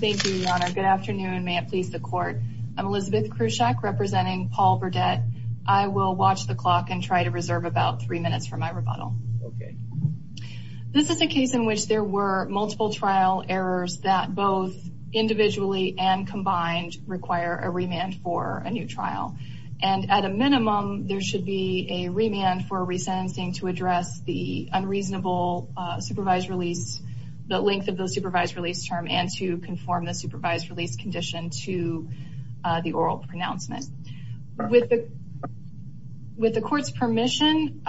Thank you, your honor. Good afternoon. May it please the court. I'm Elizabeth Krushak representing Paul Burdette. I will watch the clock and try to reserve about three minutes for my rebuttal. Okay. This is a case in which there were multiple trial errors that both individually and combined require a remand for a new trial. And at a minimum, there should be a remand for resentencing to address the unreasonable supervised release, the length of the supervised release term, and to conform the supervised release condition to the oral pronouncement. With the court's permission,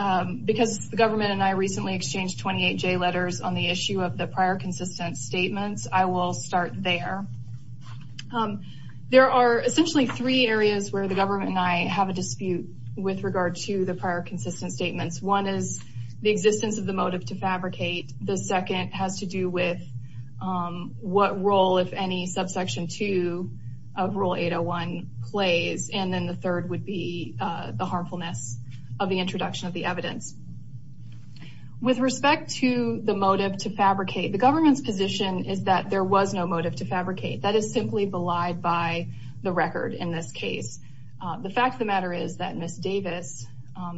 because the government and I recently exchanged 28J letters on the issue of the prior consistent statements, I will start there. There are essentially three areas where the government and I have a dispute with regard to the prior consistent statements. One is the existence of the motive to fabricate. The second has to do with what role, if any, Subsection 2 of Rule 801 plays. And then the third would be the harmfulness of the introduction of the evidence. With respect to the motive to fabricate, the government's position is that there was no motive to fabricate. That is simply belied by the record in this case. The fact of the matter is that Ms. Davis,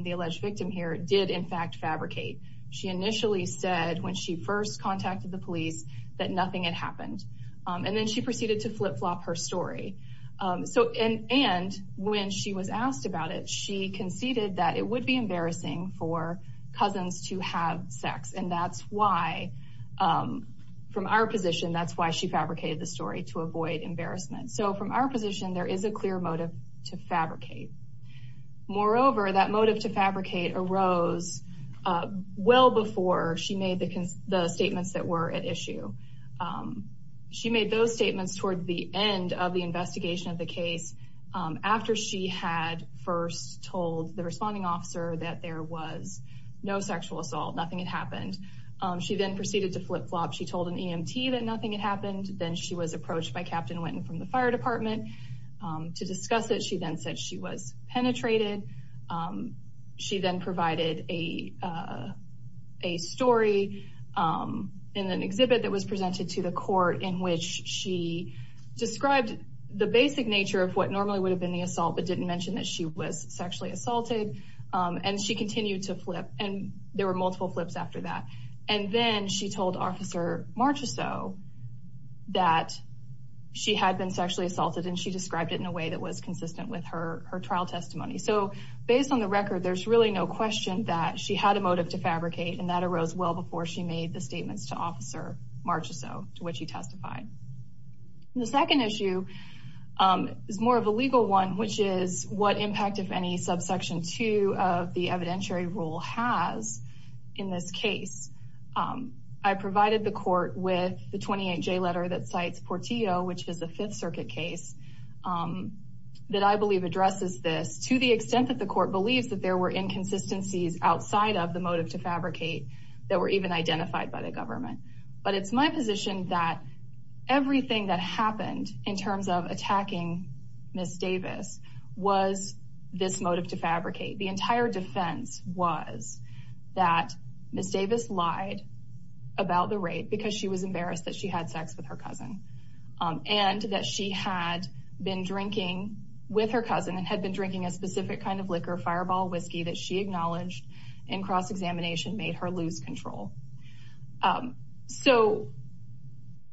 the alleged victim here, did in fact fabricate. She initially said when she first contacted the police that nothing had happened. And then she proceeded to flip-flop her story. And when she was asked about it, she conceded that it would be embarrassing for cousins to have sex. And that's why, from our position, that's why she fabricated the story, to avoid embarrassment. So from our position, there is a clear motive to fabricate. Moreover, that motive to fabricate arose well before she made the statements that were at issue. She made those statements toward the end of the investigation of the case, after she had first told the responding officer that there was no sexual assault, nothing had happened. She then proceeded to flip-flop. She told an EMT that nothing had happened. Then she was approached by Captain Winton from the fire department to discuss it. She then said she was penetrated. She then provided a story in an exhibit that was presented to the court, in which she described the basic nature of what normally would have been the assault, but didn't mention that she was sexually assaulted. And she continued to flip. And there were multiple flips after that. And then she told Officer Marchessault that she had been sexually assaulted, and she described it in a way that was consistent with her trial testimony. So based on the record, there's really no question that she had a motive to fabricate, and that arose well before she made the statements to Officer Marchessault, to which he testified. The second issue is more of a legal one, which is what impact, if any, Subsection 2 of the evidentiary rule has in this case. I provided the court with the 28J letter that cites Portillo, which is a Fifth Circuit case, that I believe addresses this to the extent that the court believes that there were inconsistencies outside of the motive to fabricate that were even identified by the government. But it's my position that everything that happened in terms of attacking Ms. Davis was this motive to fabricate. The entire defense was that Ms. Davis lied about the rape because she was embarrassed that she had sex with her cousin, and that she had been drinking with her cousin and had been drinking a specific kind of liquor, fireball whiskey, that she acknowledged in cross-examination made her lose control. So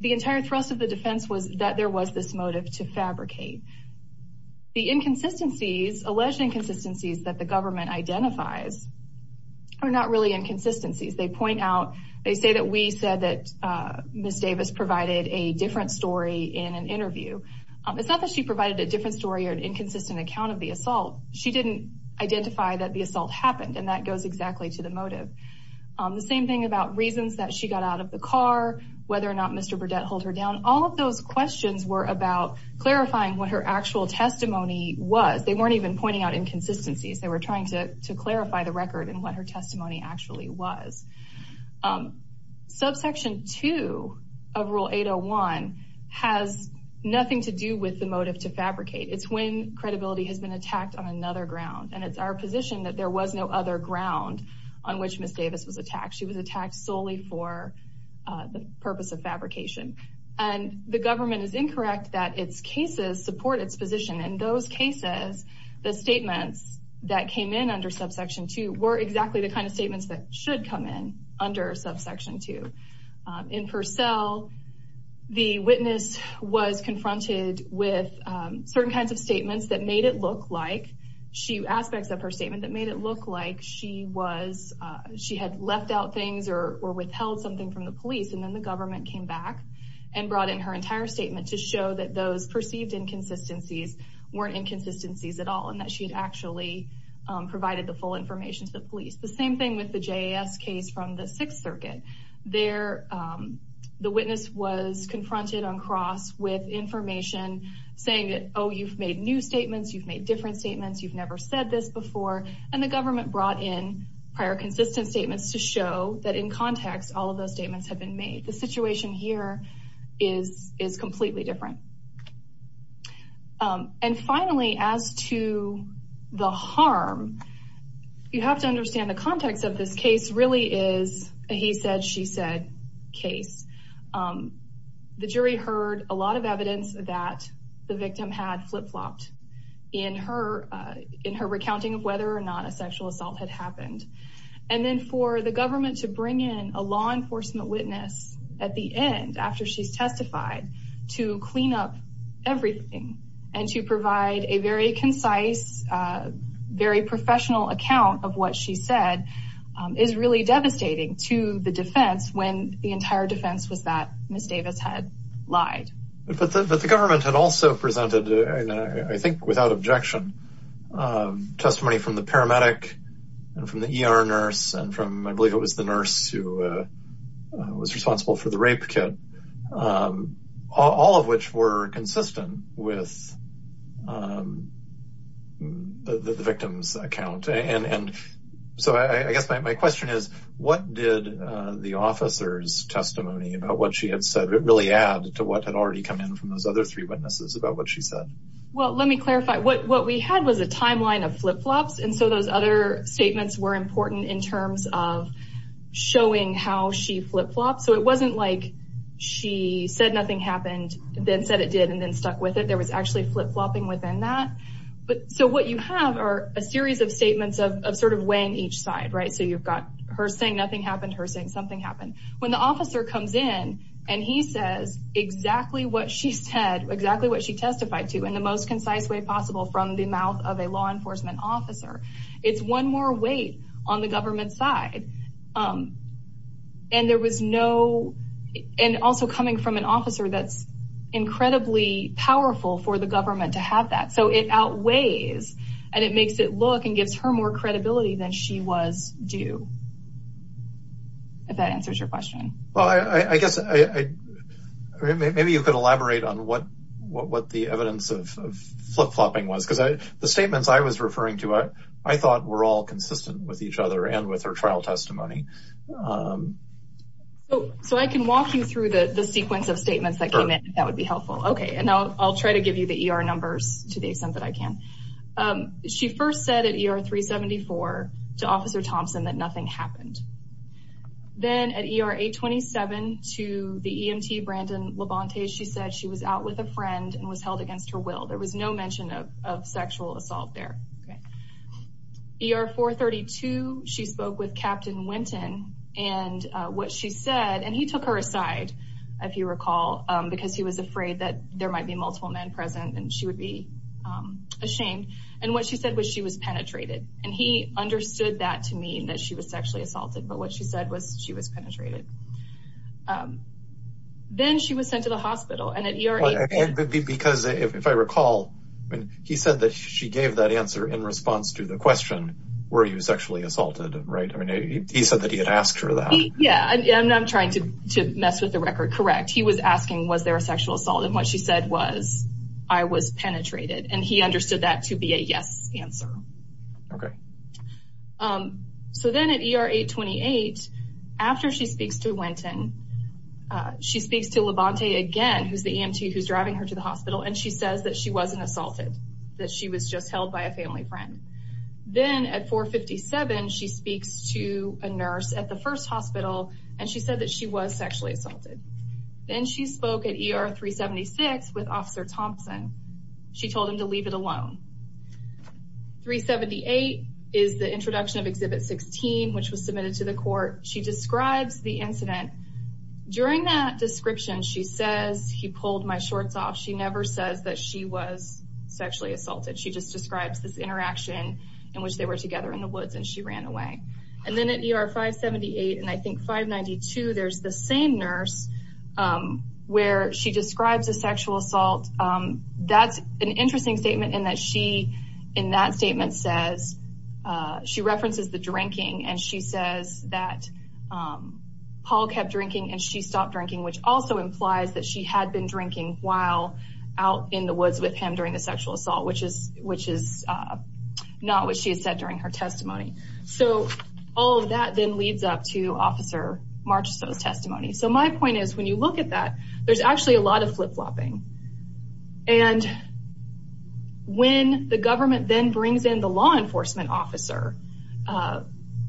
the entire thrust of the defense was that there was this motive to fabricate. The alleged inconsistencies that the government identifies are not really inconsistencies. They say that we said that Ms. Davis provided a different story in an interview. It's not that she provided a different story or an inconsistent account of the assault. She didn't identify that the assault happened, and that goes exactly to the motive. The same thing about reasons that she got out of the car, whether or not Mr. Burdett held her down. All of those questions were about clarifying what her actual testimony was. They weren't even pointing out inconsistencies. They were trying to clarify the record and what her testimony actually was. Subsection 2 of Rule 801 has nothing to do with the motive to fabricate. It's when credibility has been attacked on another ground, and it's our position that there was no other ground on which Ms. Davis was attacked. She was attacked solely for the purpose of fabrication. And the government is incorrect that its cases support its position. In those cases, the statements that came in under Subsection 2 were exactly the kind of statements that should come in under Subsection 2. In Purcell, the witness was confronted with certain kinds of statements that made it look like aspects of her statement that made it look like she had left out things or withheld something from the police, and then the government came back and brought in her entire statement to show that those perceived inconsistencies weren't inconsistencies at all, and that she had actually provided the full information to the police. The same thing with the JAS case from the Sixth Circuit. There, the witness was confronted on cross with information saying, oh, you've made new statements, you've made different statements, you've never said this before, and the government brought in prior consistent statements to show that in context, all of those statements have been made. The situation here is completely different. And finally, as to the harm, you have to understand the context of this case really is a he said, she said case. The jury heard a lot of evidence that the victim had flip-flopped in her in her recounting of whether or not a sexual assault had happened. And then for the government to bring in a law enforcement witness at the end, after she's testified to clean up everything and to provide a very concise, very professional account of what she said is really devastating to the defense when the entire defense was that Ms. Davis had lied. But the government had also presented, I think, without objection, testimony from the paramedic and from the ER nurse and from, I believe it was the nurse who was responsible for the rape kit, all of which were consistent with the victim's account. And so I guess my question is, what did the officer's testimony about what she had said really add to what had already come in from those other three witnesses about what she said? Well, let me clarify what we had was a timeline of flip-flops. And so those other statements were important in terms of showing how she flip-flopped. So it wasn't like she said nothing happened, then said it did, and then stuck with it. There was actually flip-flopping within that. But so what you have are a series of statements of sort of weighing each side. Right. So you've got her saying nothing happened, her saying something happened. When the officer comes in and he says exactly what she said, exactly what she testified to in the most concise way possible from the mouth of a law enforcement officer, it's one more weight on the government side. And there was no – and also coming from an officer that's incredibly powerful for the government to have that. So it outweighs and it makes it look and gives her more credibility than she was due, if that answers your question. Well, I guess maybe you could elaborate on what the evidence of flip-flopping was. Because the statements I was referring to I thought were all consistent with each other and with her trial testimony. So I can walk you through the sequence of statements that came in if that would be helpful. Okay. And I'll try to give you the ER numbers to the extent that I can. She first said at ER 374 to Officer Thompson that nothing happened. Then at ER 827 to the EMT, Brandon Labonte, she said she was out with a friend and was held against her will. There was no mention of sexual assault there. ER 432, she spoke with Captain Winton. And what she said – and he took her aside, if you recall, because he was afraid that there might be multiple men present and she would be ashamed. And what she said was she was penetrated. And he understood that to mean that she was sexually assaulted. But what she said was she was penetrated. Then she was sent to the hospital. Because if I recall, he said that she gave that answer in response to the question, were you sexually assaulted, right? He said that he had asked her that. Yeah, and I'm trying to mess with the record. Correct. He was asking, was there a sexual assault? And what she said was, I was penetrated. And he understood that to be a yes answer. Okay. So then at ER 828, after she speaks to Winton, she speaks to Labonte again, who's the EMT who's driving her to the hospital, and she says that she wasn't assaulted, that she was just held by a family friend. Then at 457, she speaks to a nurse at the first hospital, and she said that she was sexually assaulted. Then she spoke at ER 376 with Officer Thompson. She told him to leave it alone. 378 is the introduction of Exhibit 16, which was submitted to the court. She describes the incident. During that description, she says, he pulled my shorts off. She never says that she was sexually assaulted. She just describes this interaction in which they were together in the woods, and she ran away. And then at ER 578 and, I think, 592, there's the same nurse where she describes a sexual assault. That's an interesting statement in that she, in that statement, says she references the drinking, and she says that Paul kept drinking and she stopped drinking, which also implies that she had been drinking while out in the woods with him during the sexual assault, which is not what she said during her testimony. So all of that then leads up to Officer Marcheseau's testimony. So my point is, when you look at that, there's actually a lot of flip-flopping. And when the government then brings in the law enforcement officer,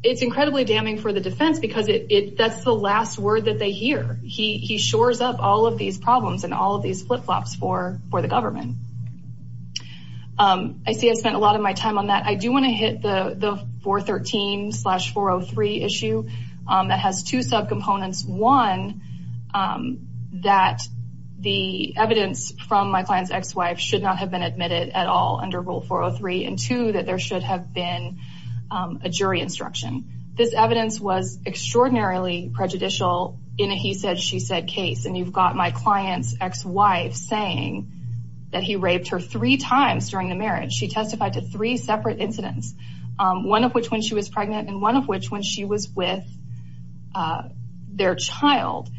it's incredibly damning for the defense because that's the last word that they hear. He shores up all of these problems and all of these flip-flops for the government. I see I spent a lot of my time on that. I do want to hit the 413-403 issue. It has two subcomponents. One, that the evidence from my client's ex-wife should not have been admitted at all under Rule 403, and two, that there should have been a jury instruction. This evidence was extraordinarily prejudicial in a he-said-she-said case, and you've got my client's ex-wife saying that he raped her three times during the marriage. She testified to three separate incidents, one of which when she was pregnant and one of which when she was with their child.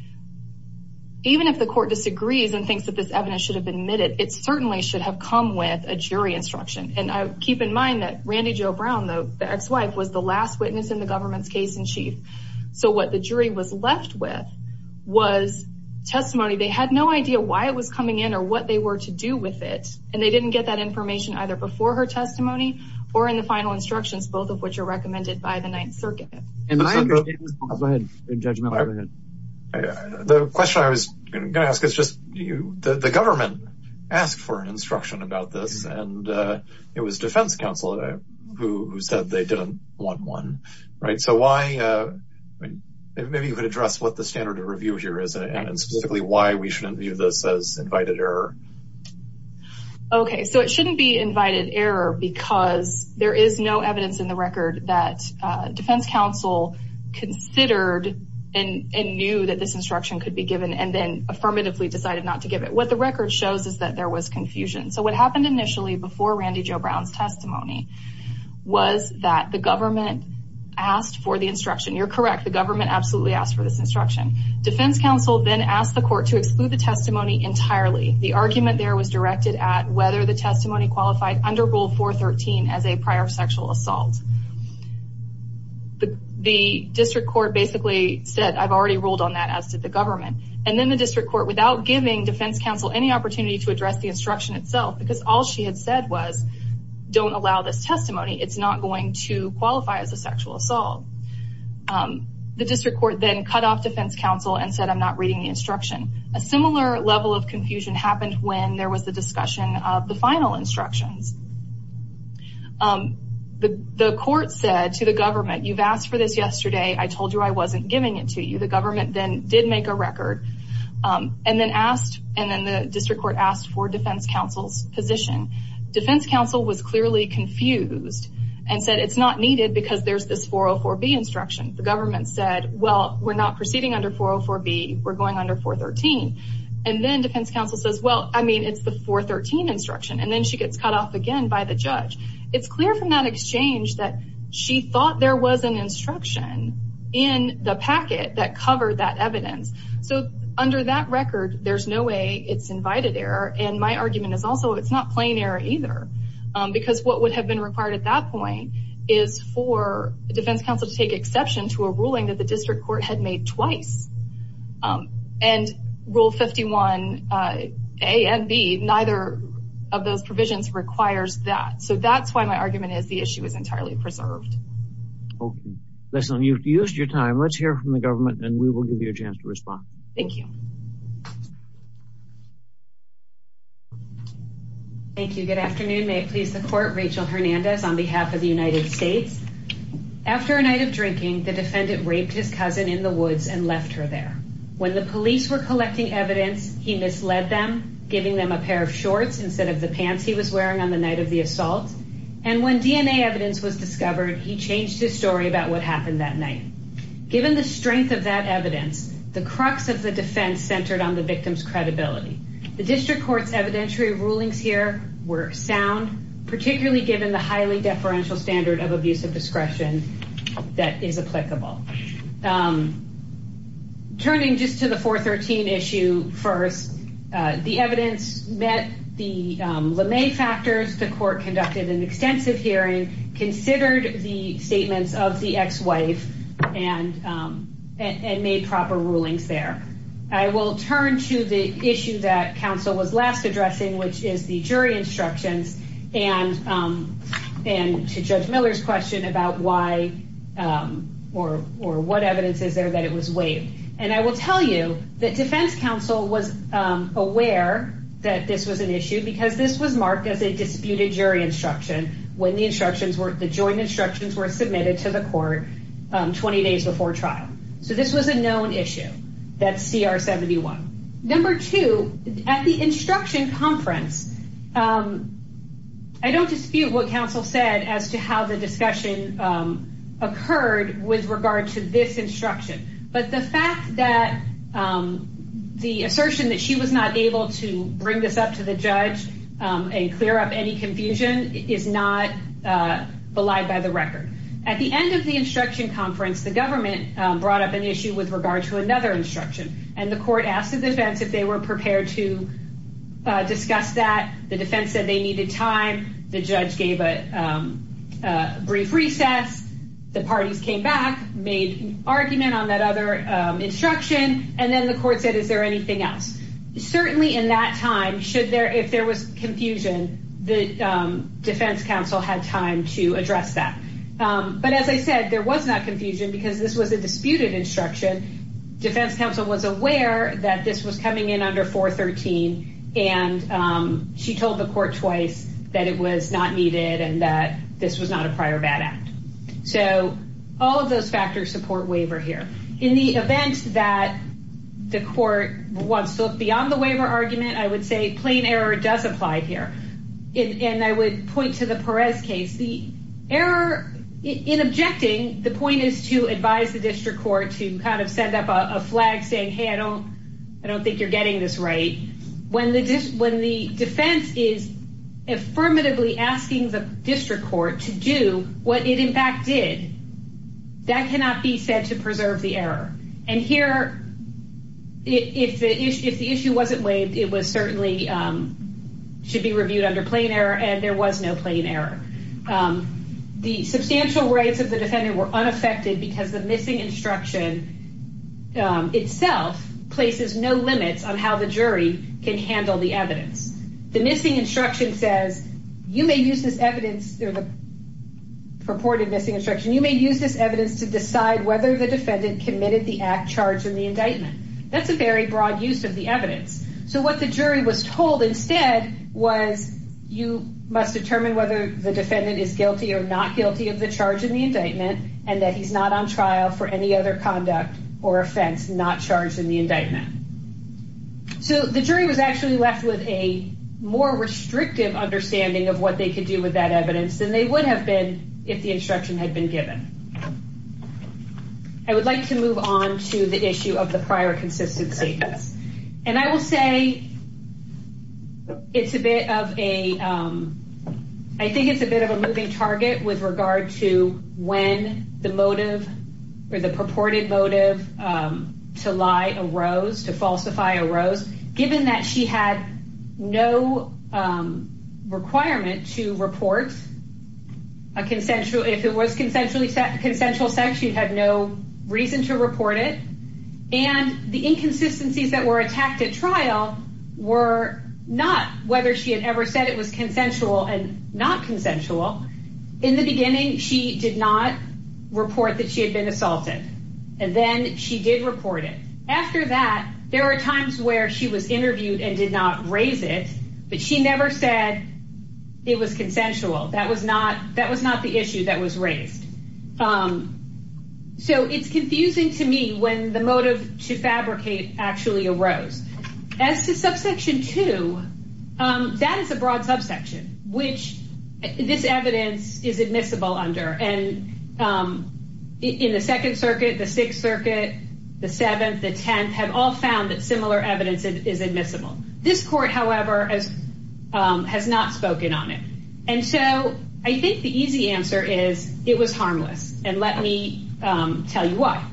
Even if the court disagrees and thinks that this evidence should have been admitted, it certainly should have come with a jury instruction. And keep in mind that Randy Jo Brown, the ex-wife, was the last witness in the government's case-in-chief. So what the jury was left with was testimony. They had no idea why it was coming in or what they were to do with it, and they didn't get that information either before her testimony or in the final instructions, both of which are recommended by the Ninth Circuit. And I understand- Go ahead, Judge Miller, go ahead. The question I was going to ask is just, the government asked for an instruction about this, and it was defense counsel who said they didn't want one, right? So why-maybe you could address what the standard of review here is and specifically why we shouldn't view this as invited error. Okay, so it shouldn't be invited error because there is no evidence in the record that defense counsel considered and knew that this instruction could be given and then affirmatively decided not to give it. What the record shows is that there was confusion. So what happened initially before Randy Jo Brown's testimony was that the government asked for the instruction. You're correct, the government absolutely asked for this instruction. Defense counsel then asked the court to exclude the testimony entirely. The argument there was directed at whether the testimony qualified under Rule 413 as a prior sexual assault. The district court basically said, I've already ruled on that, as did the government. And then the district court, without giving defense counsel any opportunity to address the instruction itself, because all she had said was, don't allow this testimony, it's not going to qualify as a sexual assault. The district court then cut off defense counsel and said, I'm not reading the instruction. A similar level of confusion happened when there was the discussion of the final instructions. The court said to the government, you've asked for this yesterday, I told you I wasn't giving it to you. The government then did make a record and then the district court asked for defense counsel's position. Defense counsel was clearly confused and said it's not needed because there's this 404B instruction. The government said, well, we're not proceeding under 404B. We're going under 413. And then defense counsel says, well, I mean, it's the 413 instruction. And then she gets cut off again by the judge. It's clear from that exchange that she thought there was an instruction in the packet that covered that evidence. So under that record, there's no way it's invited error. And my argument is also it's not plain error either. Because what would have been required at that point is for defense counsel to take exception to a ruling that the district court had made twice. And Rule 51A and B, neither of those provisions requires that. So that's why my argument is the issue is entirely preserved. Okay. Leslie, you've used your time. Let's hear from the government and we will give you a chance to respond. Thank you. Thank you. Good afternoon. May it please the court, Rachel Hernandez on behalf of the United States. After a night of drinking, the defendant raped his cousin in the woods and left her there. When the police were collecting evidence, he misled them, giving them a pair of shorts instead of the pants he was wearing on the night of the assault. And when DNA evidence was discovered, he changed his story about what happened that night. Given the strength of that evidence, the crux of the defense centered on the victim's credibility. The district court's evidentiary rulings here were sound, particularly given the highly deferential standard of abusive discretion that is applicable. Turning just to the 413 issue first, the evidence met the LeMay factors. The court conducted an extensive hearing, considered the statements of the ex-wife, and made proper rulings there. I will turn to the issue that counsel was last addressing, which is the jury instructions and to Judge Miller's question about why or what evidence is there that it was waived. And I will tell you that defense counsel was aware that this was an issue because this was marked as a disputed jury instruction when the joint instructions were submitted to the court 20 days before trial. So this was a known issue, that CR 71. Number two, at the instruction conference, I don't dispute what counsel said as to how the discussion occurred with regard to this instruction. But the fact that the assertion that she was not able to bring this up to the judge and clear up any confusion is not belied by the record. At the end of the instruction conference, the government brought up an issue with regard to another instruction, and the court asked the defense if they were prepared to discuss that. The defense said they needed time. The judge gave a brief recess. The parties came back, made an argument on that other instruction, and then the court said, is there anything else? Certainly in that time, if there was confusion, the defense counsel had time to address that. But as I said, there was not confusion because this was a disputed instruction. Defense counsel was aware that this was coming in under 413, and she told the court twice that it was not needed and that this was not a prior bad act. So all of those factors support waiver here. In the event that the court wants to look beyond the waiver argument, I would say plain error does apply here. And I would point to the Perez case. The error in objecting, the point is to advise the district court to kind of send up a flag saying, hey, I don't think you're getting this right. When the defense is affirmatively asking the district court to do what it in fact did, that cannot be said to preserve the error. And here, if the issue wasn't waived, it was certainly should be reviewed under plain error, and there was no plain error. The substantial rights of the defendant were unaffected because the missing instruction itself places no limits on how the jury can handle the evidence. The missing instruction says you may use this evidence, the purported missing instruction, you may use this evidence to decide whether the defendant committed the act charged in the indictment. That's a very broad use of the evidence. So what the jury was told instead was you must determine whether the defendant is guilty or not guilty of the charge in the indictment and that he's not on trial for any other conduct or offense not charged in the indictment. So the jury was actually left with a more restrictive understanding of what they could do with that evidence than they would have been if the instruction had been given. I would like to move on to the issue of the prior consistency. And I will say it's a bit of a, I think it's a bit of a moving target with regard to when the motive or the purported motive to lie arose, to falsify arose, given that she had no requirement to report a consensual, so if it was consensual sex, she had no reason to report it. And the inconsistencies that were attacked at trial were not whether she had ever said it was consensual and not consensual. In the beginning, she did not report that she had been assaulted. And then she did report it. After that, there were times where she was interviewed and did not raise it, but she never said it was consensual. That was not the issue that was raised. So it's confusing to me when the motive to fabricate actually arose. As to subsection two, that is a broad subsection, which this evidence is admissible under. And in the Second Circuit, the Sixth Circuit, the Seventh, the Tenth, have all found that similar evidence is admissible. This court, however, has not spoken on it. And so I think the easy answer is it was harmless. And let me tell you why.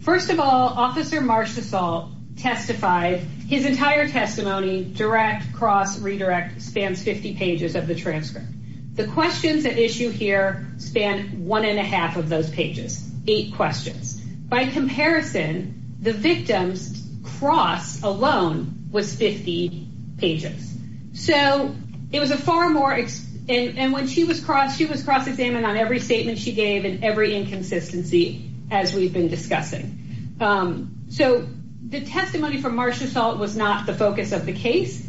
First of all, Officer Marshesall testified. His entire testimony, direct, cross, redirect, spans 50 pages of the transcript. The questions at issue here span one and a half of those pages, eight questions. By comparison, the victim's cross alone was 50 pages. So it was a far more, and when she was crossed, she was cross-examined on every statement she gave and every inconsistency as we've been discussing. So the testimony from Marshesall was not the focus of the case.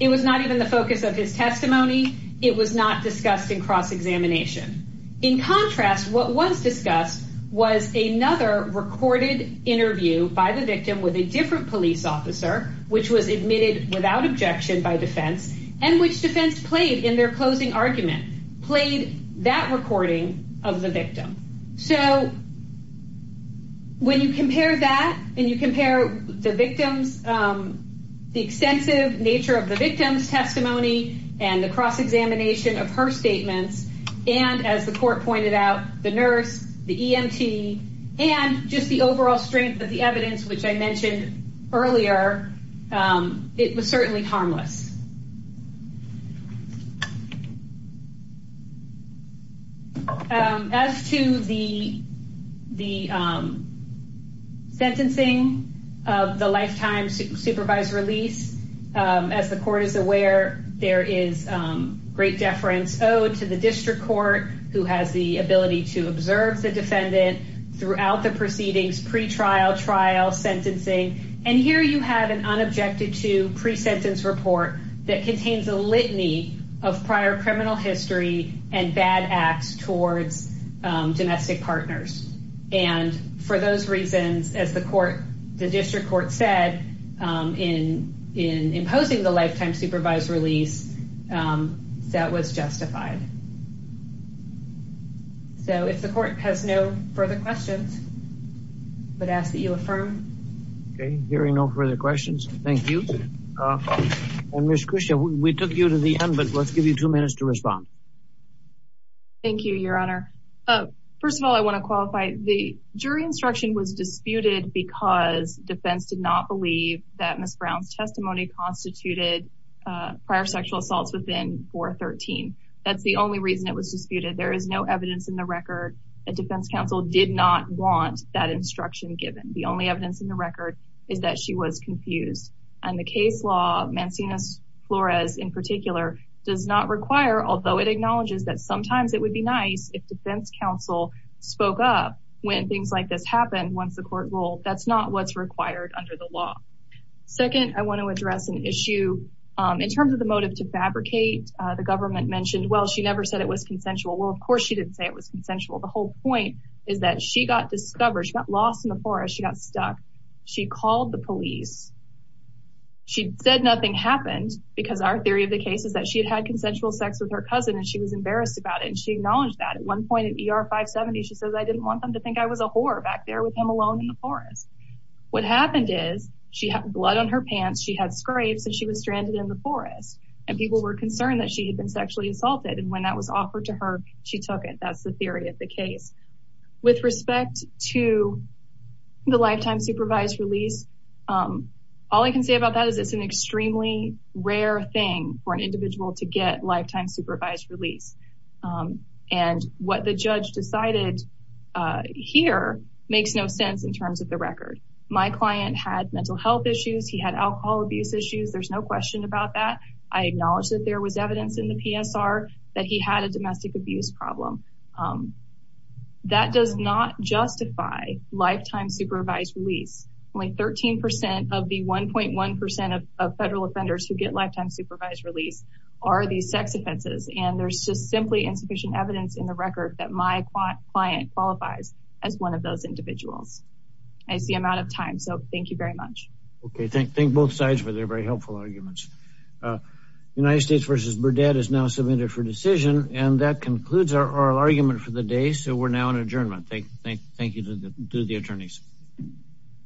It was not even the focus of his testimony. It was not discussed in cross-examination. In contrast, what was discussed was another recorded interview by the victim with a different police officer, which was admitted without objection by defense, and which defense played in their closing argument, played that recording of the victim. So when you compare that and you compare the victim's, the extensive nature of the victim's testimony and the cross-examination of her statements, and as the court pointed out, the nurse, the EMT, and just the overall strength of the evidence, which I mentioned earlier, it was certainly harmless. As to the sentencing of the lifetime supervised release, as the court is aware, there is great deference owed to the district court, who has the ability to observe the defendant throughout the proceedings, pre-trial, trial, sentencing. And here you have an unobjected to pre-sentence report that contains a litany of prior criminal history and bad acts towards domestic partners. And for those reasons, as the district court said, in imposing the lifetime supervised release, that was justified. So if the court has no further questions, I would ask that you affirm. Okay, hearing no further questions, thank you. And Ms. Krisha, we took you to the end, but let's give you two minutes to respond. Thank you, Your Honor. First of all, I want to qualify. The jury instruction was disputed because defense did not believe that Ms. Brown's testimony constituted prior sexual assaults within 413. That's the only reason it was disputed. There is no evidence in the record that defense counsel did not want that instruction given. The only evidence in the record is that she was confused. And the case law, Mancinas-Flores in particular, does not require, although it acknowledges that sometimes it would be nice if defense counsel spoke up when things like this happen once the court ruled, that's not what's required under the law. Second, I want to address an issue in terms of the motive to fabricate. The government mentioned, well, she never said it was consensual. Well, of course she didn't say it was consensual. The whole point is that she got discovered. She got lost in the forest. She got stuck. She called the police. She said nothing happened because our theory of the case is that she had had consensual sex with her cousin and she was embarrassed about it. And she acknowledged that. At one point in ER 570, she says I didn't want them to think I was a whore back there with him alone in the forest. What happened is she had blood on her pants. She had scrapes and she was stranded in the forest. And people were concerned that she had been sexually assaulted. And when that was offered to her, she took it. That's the theory of the case. With respect to the lifetime supervised release, all I can say about that is it's an extremely rare thing for an individual to get lifetime supervised release. And what the judge decided here makes no sense in terms of the record. My client had mental health issues. He had alcohol abuse issues. There's no question about that. I acknowledge that there was evidence in the PSR that he had a domestic abuse problem. That does not justify lifetime supervised release. Only 13% of the 1.1% of federal offenders who get lifetime supervised release are these sex offenses. And there's just simply insufficient evidence in the record that my client qualifies as one of those individuals. I see I'm out of time. So thank you very much. Okay. Thank both sides for their very helpful arguments. United States versus Burdette is now submitted for decision. And that concludes our oral argument for the day. So we're now in adjournment. Thank you to the attorneys.